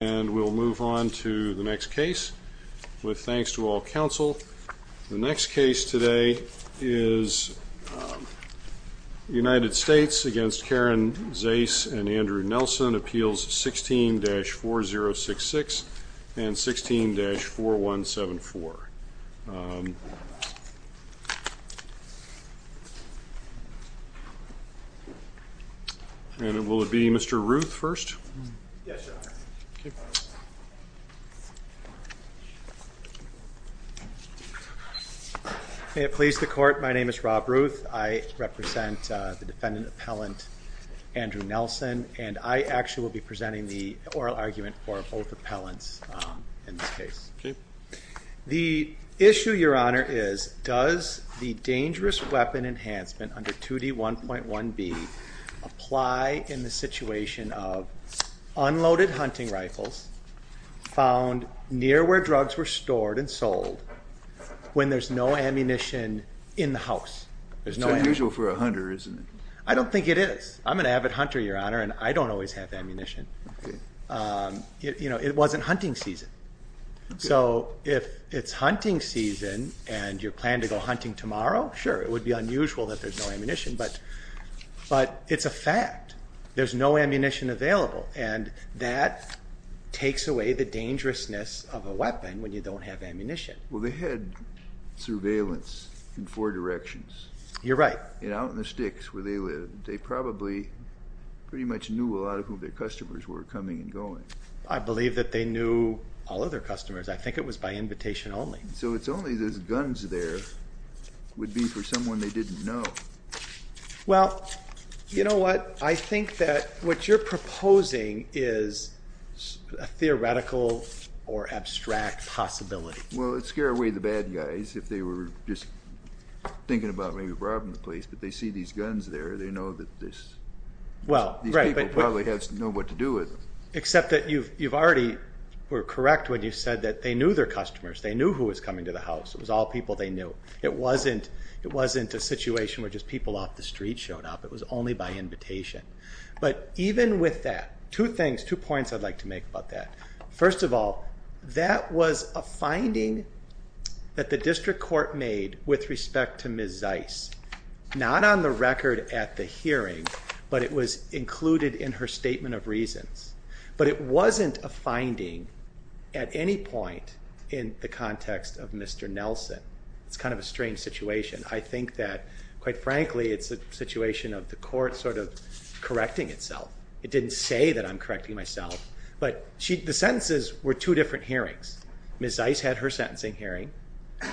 And we'll move on to the next case. With thanks to all counsel. The next case today is United States against Karen Zais and Andrew Nelson appeals 16 dash 4066 and 16 dash 4174. And it will be Mr. Ruth first. Please the court. My name is Rob Ruth. I represent the defendant appellant. Andrew Nelson and I actually will be presenting the oral argument for both appellants in this case. The issue, your honor, is does the dangerous weapon enhancement under 2D1.1B apply in the situation of unloaded hunting rifles found near where drugs were stored and sold when there's no ammunition in the house? It's unusual for a hunter, isn't it? I don't think it is. I'm an avid hunter, your honor, and I don't always have ammunition. You know, it wasn't hunting season. So if it's hunting season and you plan to go hunting tomorrow, sure, it would be unusual that there's no ammunition. But it's a fact. There's no ammunition available. And that takes away the dangerousness of a weapon when you don't have ammunition. Well, they had surveillance in four directions. You're right. And out in the sticks where they lived, they probably pretty much knew a lot of who their customers were coming and going. I believe that they knew all of their customers. I think it was by invitation only. So it's only those guns there would be for someone they didn't know. Well, you know what? I think that what you're proposing is a theoretical or abstract possibility. Well, it would scare away the bad guys if they were just thinking about maybe robbing the place. But they see these guns there, they know that these people probably have to know what to do with them. Except that you've already were correct when you said that they knew their customers. They knew who was coming to the house. It was all people they knew. It wasn't a situation where just people off the street showed up. It was only by invitation. But even with that, two things, two points I'd like to make about that. First of all, that was a finding that the district court made with respect to Ms. Zeiss. Not on the record at the hearing, but it was included in her statement of reasons. But it wasn't a finding at any point in the context of Mr. Nelson. It's kind of a strange situation. I think that quite frankly it's a situation of the court sort of correcting itself. It didn't say that I'm correcting myself. But the sentences were two different hearings. Ms. Zeiss had her sentencing hearing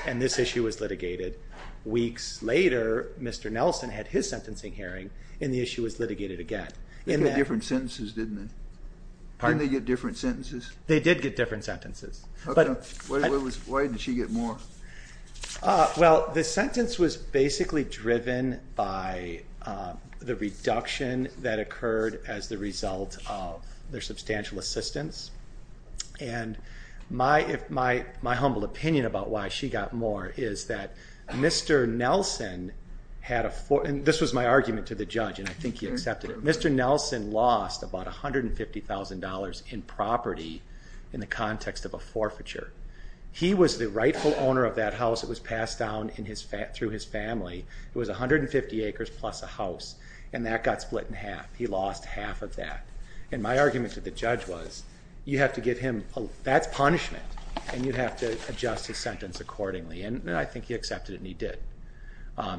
and this issue was litigated. Weeks later, Mr. Nelson had his sentencing hearing and the issue was litigated again. They got different sentences, didn't they? Pardon? Didn't they get different sentences? They did get different sentences. Okay. Why did she get more? Well, the sentence was basically driven by the reduction that occurred as the result of their substantial assistance. And my humble opinion about why she got more is that Mr. Nelson had a...this was my argument to the judge and I think he accepted it. Mr. Nelson lost about $150,000 in property in the context of a forfeiture. He was the rightful owner of that house. It was passed down through his family. It was 150 acres plus a house and that got split in half. He lost half of that. And my argument to the judge was you have to give him...that's punishment and you have to adjust his sentence accordingly. And I think he accepted it and he did.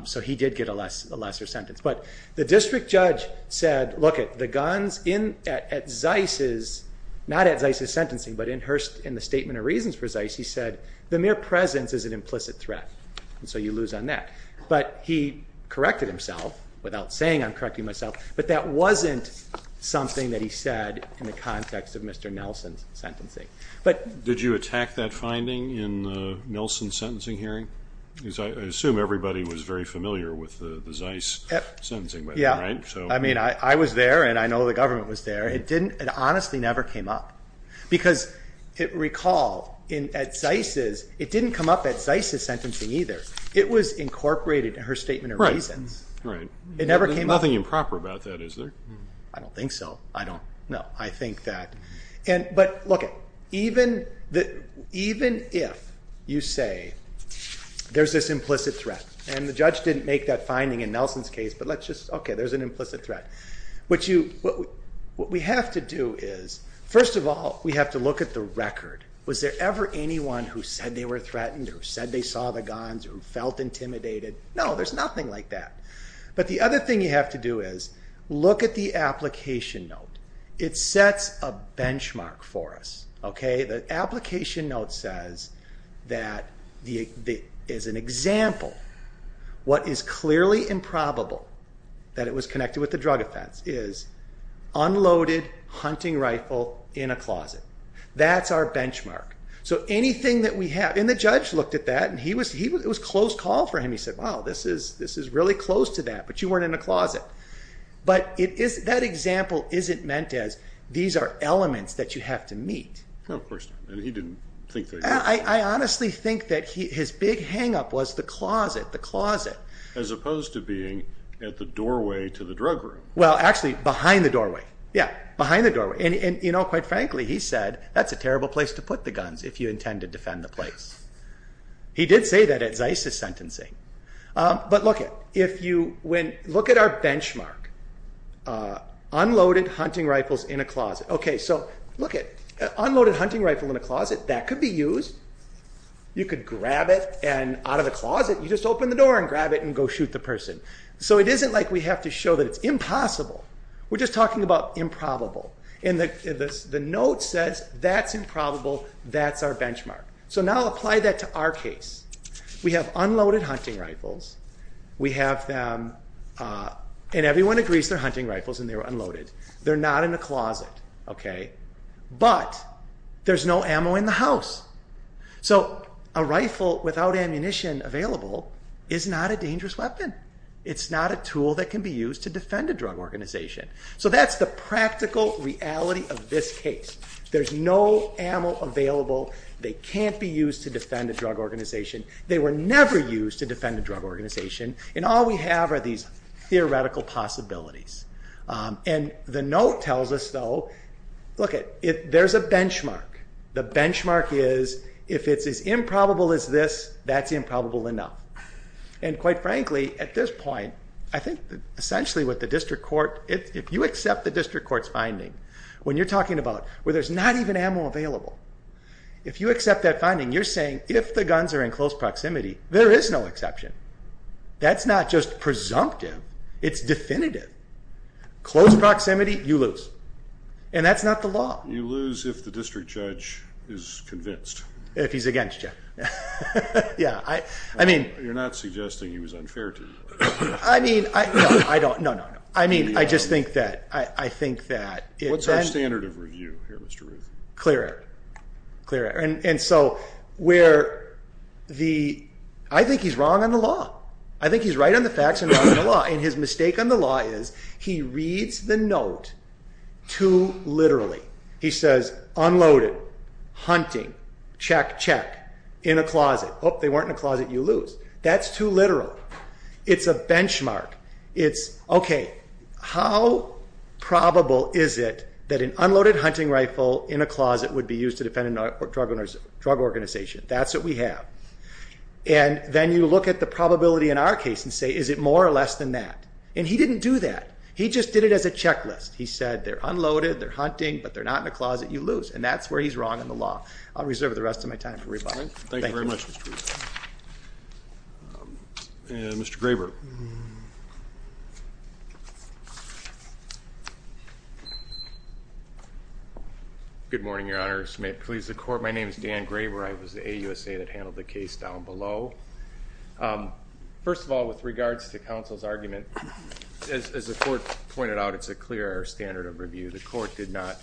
So he did get a lesser sentence. But the district judge said, look it, the guns at Zeiss's...not at Zeiss's sentencing but in the statement of reasons for Zeiss, he said, the mere presence is an implicit threat. And so you lose on that. But he corrected himself without saying I'm correcting myself. But that wasn't something that he said in the context of Mr. Nelson's sentencing. Did you attack that finding in Nelson's sentencing hearing? I assume everybody was very familiar with the Zeiss sentencing. I mean, I was there and I know the government was there. It honestly never came up. Because recall, at Zeiss's, it didn't come up at Zeiss's sentencing either. It was incorporated in her statement of reasons. It never came up. There's nothing improper about that, is there? I don't think so. I don't know. I think that...but look, even if you say there's this implicit threat and the judge didn't make that finding in Nelson's case, but let's just...okay, there's an implicit threat. What we have to do is, first of all, we have to look at the record. Was there ever anyone who said they were threatened or said they saw the guns or felt intimidated? No, there's nothing like that. But the other thing you have to do is look at the application note. It sets a benchmark for us. The application note says that as an example, what is clearly improbable that it was connected with a drug offense is unloaded hunting rifle in a closet. That's our benchmark. So anything that we have...and the judge looked at that and it was a close call for him. He said, wow, this is really close to that, but you weren't in a closet. But that example isn't meant as these are elements that you have to meet. No, of course not. And he didn't think that either. I honestly think that his big hang-up was the closet, the closet. As opposed to being at the doorway to the drug room. Well, actually behind the doorway. Yeah, behind the doorway. And quite frankly, he said, that's a terrible place to put the guns if you intend to defend the place. He did say that at Zeis' sentencing. But look at our benchmark. Unloaded hunting rifles in a closet. Okay, so look at unloaded hunting rifle in a closet. That could be used. You could grab it and out of the closet, you just open the door and grab it and go shoot the person. So it isn't like we have to show that it's impossible. We're just talking about improbable. And the note says, that's improbable. That's our benchmark. So now apply that to our case. We have unloaded hunting rifles. We have them...and everyone agrees they're hunting rifles and they're unloaded. They're not in a closet. But there's no ammo in the house. So a rifle without ammunition available is not a dangerous weapon. It's not a tool that can be used to defend a drug organization. So that's the practical reality of this case. There's no ammo available. They can't be used to defend a drug organization. They were never used to defend a drug organization. And all we have are these theoretical possibilities. And the note tells us though, look it, there's a benchmark. The benchmark is, if it's as improbable as this, that's improbable enough. And quite frankly, at this point, I think essentially with the district court, if you accept the district court's finding, when you're talking about where there's not even ammo available, if you accept that finding, you're saying if the guns are in close proximity, there is no exception. That's not just presumptive. It's definitive. Close proximity, you lose. And that's not the law. You lose if the district judge is convinced. If he's against you. You're not suggesting he was unfair to you. I mean, I don't, no, no, no. I mean, I just think that, I think that. What's our standard of review here, Mr. Ruth? Clear air. Clear air. And so where the, I think he's wrong on the law. I think he's right on the facts and wrong on the law. And his mistake on the law is he reads the note too literally. He says unloaded, hunting, check, check, in a closet. Oop, they weren't in a closet, you lose. That's too literal. It's a benchmark. It's, okay, how probable is it that an unloaded hunting rifle in a closet would be used to defend a drug organization? That's what we have. And then you look at the probability in our case and say, is it more or less than that? And he didn't do that. He just did it as a checklist. He said they're unloaded, they're hunting, but they're not in a closet, you lose. And that's where he's wrong on the law. I'll reserve the rest of my time for rebuttal. Thank you very much, Mr. Ruth. And Mr. Graber. Good morning, Your Honor. My name is Dan Graber. I was the AUSA that handled the case down below. First of all, with regards to counsel's argument, as the court pointed out, it's a clear error standard of review. The court did not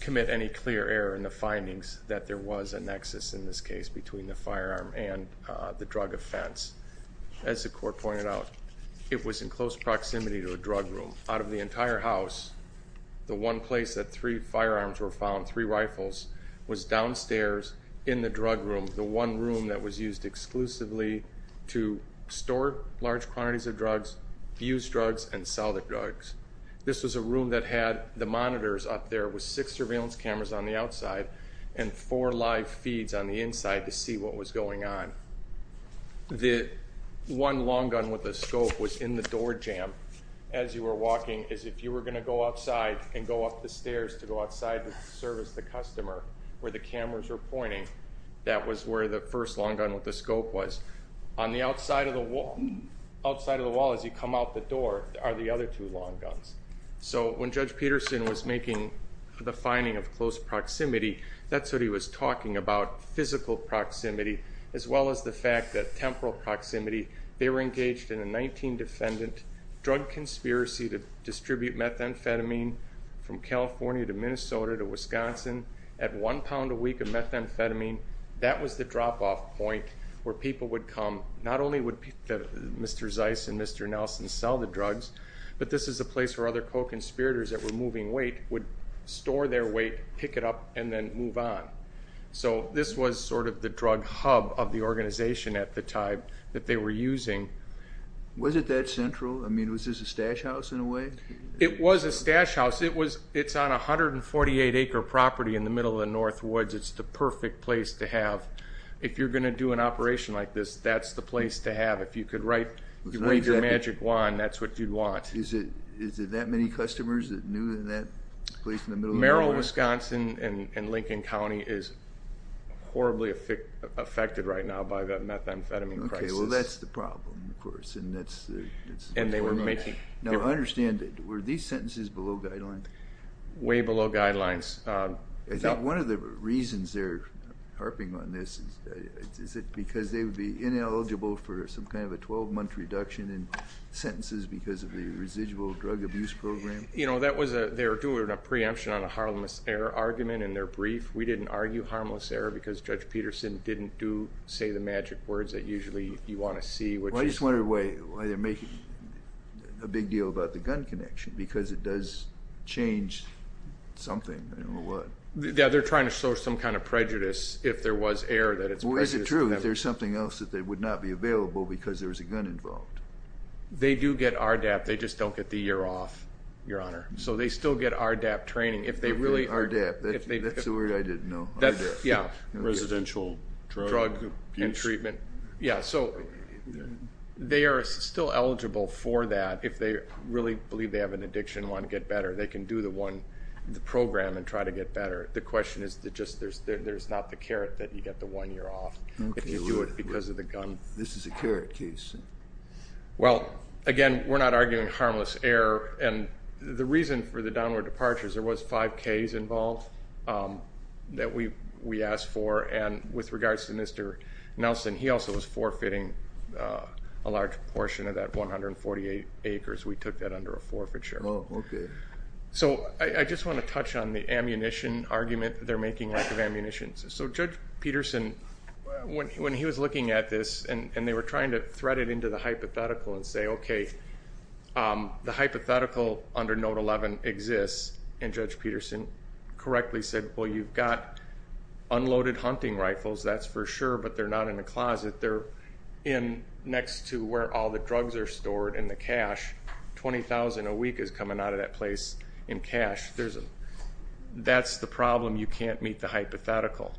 commit any clear error in the findings that there was a nexus in this case between the firearm and the drug offense. As the court pointed out, it was in close proximity to a drug room. Out of the entire house, the one place that three firearms were found, three rifles, was downstairs in the drug room, the one room that was used exclusively to store large quantities of drugs, use drugs, and sell the drugs. This was a room that had the monitors up there with six surveillance cameras on the outside, and four live feeds on the inside to see what was going on. The one long gun with a scope was in the door jamb. As you were walking, as if you were going to go outside and go up the stairs to go outside to service the customer, where the cameras were pointing, that was where the first long gun with a scope was. On the outside of the wall, as you come out the door, are the other two long guns. So when Judge Peterson was making the finding of close proximity, that's what he was talking about, physical proximity, as well as the fact that temporal proximity. They were engaged in a 19-defendant drug conspiracy to distribute methamphetamine from California to Minnesota to Wisconsin. At one pound a week of methamphetamine, that was the drop-off point where people would come. Not only would Mr. Zeiss and Mr. Nelson sell the drugs, but this is a place where other co-conspirators that were moving weight would store their weight, pick it up, and then move on. So this was sort of the drug hub of the organization at the time that they were using. Was it that central? I mean, was this a stash house in a way? It was a stash house. It's on a 148-acre property in the middle of the Northwoods. It's the perfect place to have, if you're going to do an operation like this, that's the place to have. If you could wave your magic wand, that's what you'd want. Is it that many customers that knew in that place in the middle of the Northwoods? Merrill, Wisconsin, and Lincoln County is horribly affected right now by the methamphetamine crisis. Now, understand, were these sentences below guidelines? Way below guidelines. I think one of the reasons they're harping on this, is it because they would be ineligible for some kind of a 12-month reduction in sentences because of the residual drug abuse program? You know, they were doing a preemption on a harmless error argument in their brief. We didn't argue harmless error because Judge Peterson didn't say the magic words that usually you want to see. I just wonder why they're making a big deal about the gun connection, because it does change something. Yeah, they're trying to show some kind of prejudice if there was error. Is it true that there's something else that would not be available because there was a gun involved? They do get RDAP, they just don't get the year off, Your Honor. So they still get RDAP training. RDAP, that's the word I didn't know. Residential drug abuse. Treatment. Yeah, so they are still eligible for that if they really believe they have an addiction and want to get better. They can do the program and try to get better. The question is that there's not the carrot that you get the one year off if you do it because of the gun. This is a carrot case. Well, again, we're not arguing harmless error, and the reason for the downward departure is there was 5Ks involved that we asked for, and with regards to Mr. Nelson, he also was forfeiting a large portion of that 148 acres. We took that under a forfeiture. Oh, okay. So I just want to touch on the ammunition argument that they're making, lack of ammunition. So Judge Peterson, when he was looking at this and they were trying to thread it into the hypothetical and say, okay, the hypothetical under Note 11 exists, and Judge Peterson correctly said, well, you've got unloaded hunting rifles, that's for sure, but they're not in the closet. They're in next to where all the drugs are stored and the cash. $20,000 a week is coming out of that place in cash. That's the problem. You can't meet the hypothetical.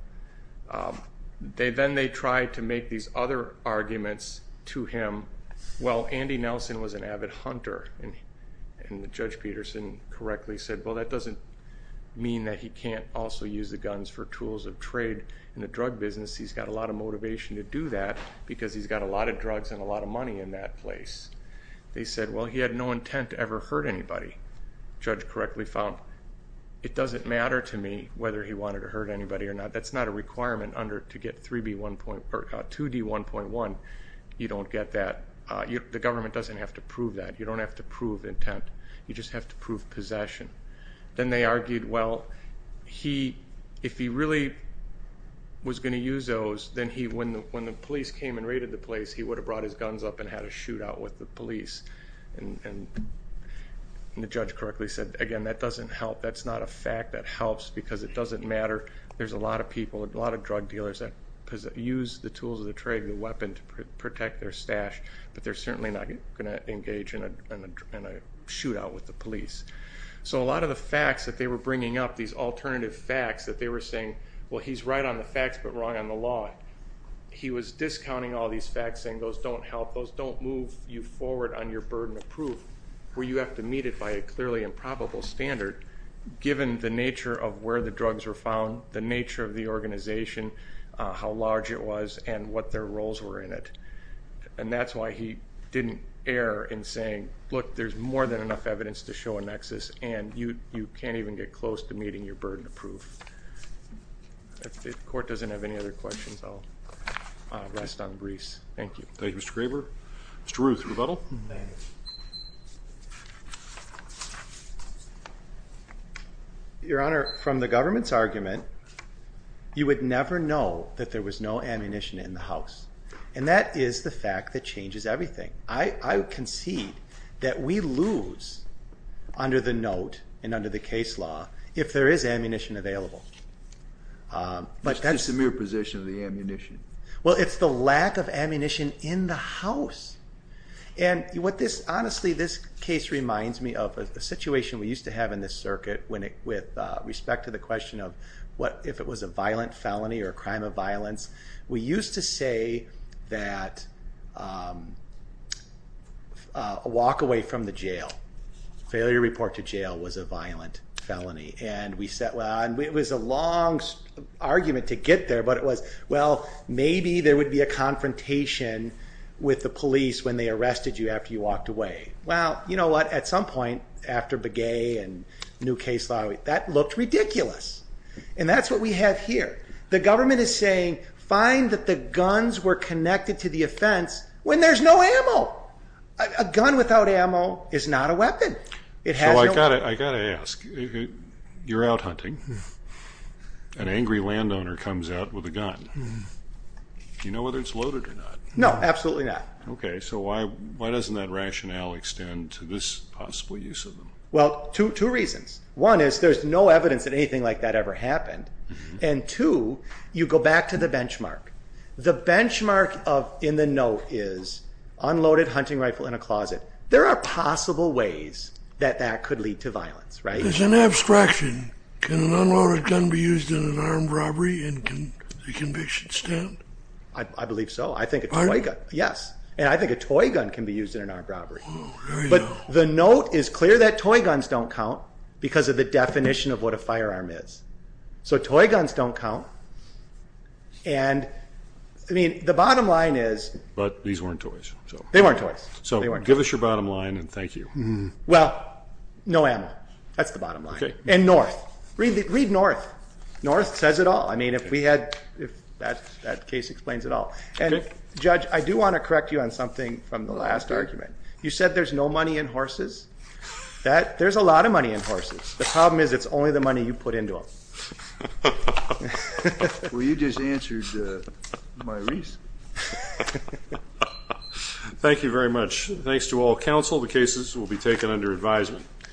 Then they tried to make these other arguments to him. Well, Andy Nelson was an avid hunter, and Judge Peterson correctly said, well, that doesn't mean that he can't also use the guns for tools of trade in the drug business. He's got a lot of motivation to do that because he's got a lot of drugs and a lot of money in that place. They said, well, he had no intent to ever hurt anybody. Judge correctly found it doesn't matter to me whether he wanted to hurt anybody or not. That's not a requirement to get 2D1.1. You don't get that. The government doesn't have to prove that. You don't have to prove intent. You just have to prove possession. Then they argued, well, if he really was going to use those, then when the police came and raided the place, he would have brought his guns up and had a shootout with the police. And the judge correctly said, again, that doesn't help. That's not a fact. That helps because it doesn't matter. There's a lot of people, a lot of drug dealers that use the tools of the trade, the weapon to protect their stash, but they're certainly not going to engage in a shootout with the police. So a lot of the facts that they were bringing up, these alternative facts that they were saying, well, he's right on the facts, but wrong on the law. He was discounting all these facts, saying those don't help. Those don't move you forward on your burden of proof where you have to meet it by a clearly improbable standard. Given the nature of where the drugs were found, the nature of the organization, how large it was, and what their roles were in it. And that's why he didn't err in saying, look, there's more than enough evidence to show a nexus, and you can't even get close to meeting your burden of proof. If the court doesn't have any other questions, I'll rest on Greece. Thank you. Thank you, Mr. Graber. Mr. Ruth, rebuttal? Thank you. Your Honor, from the government's argument, you would never know that there was no ammunition in the house. And that is the fact that changes everything. I concede that we lose under the note and under the case law if there is ammunition available. It's just a mere possession of the ammunition. Well, it's the lack of ammunition in the house. And honestly, this case reminds me of a situation we used to have in this circuit with respect to the question of if it was a violent felony or a crime of violence. We used to say that a walk away from the jail, failure to report to jail, was a violent felony. And it was a long argument to get there, but it was, well, maybe there would be a confrontation with the police when they arrested you after you walked away. Well, you know what? At some point, after Begay and new case law, that looked ridiculous. And that's what we have here. The government is saying, find that the guns were connected to the offense when there's no ammo. A gun without ammo is not a weapon. I've got to ask. You're out hunting. An angry landowner comes out with a gun. Do you know whether it's loaded or not? No, absolutely not. Okay, so why doesn't that rationale extend to this possible use of them? Well, two reasons. One is there's no evidence that anything like that ever happened. And two, you go back to the benchmark. The benchmark in the note is unloaded hunting rifle in a closet. There are possible ways that that could lead to violence, right? As an abstraction, can an unloaded gun be used in an armed robbery and can the conviction stand? I believe so. I think a toy gun, yes. And I think a toy gun can be used in an armed robbery. But the note is clear that toy guns don't count because of the definition of what a firearm is. So toy guns don't count. And, I mean, the bottom line is. But these weren't toys. They weren't toys. So give us your bottom line and thank you. Well, no ammo. That's the bottom line. Okay. And north. Read north. North says it all. I mean, if we had, if that case explains it all. And, Judge, I do want to correct you on something from the last argument. You said there's no money in horses. There's a lot of money in horses. The problem is it's only the money you put into them. Well, you just answered my reason. Thank you very much. Thanks to all counsel. All of the cases will be taken under advisement.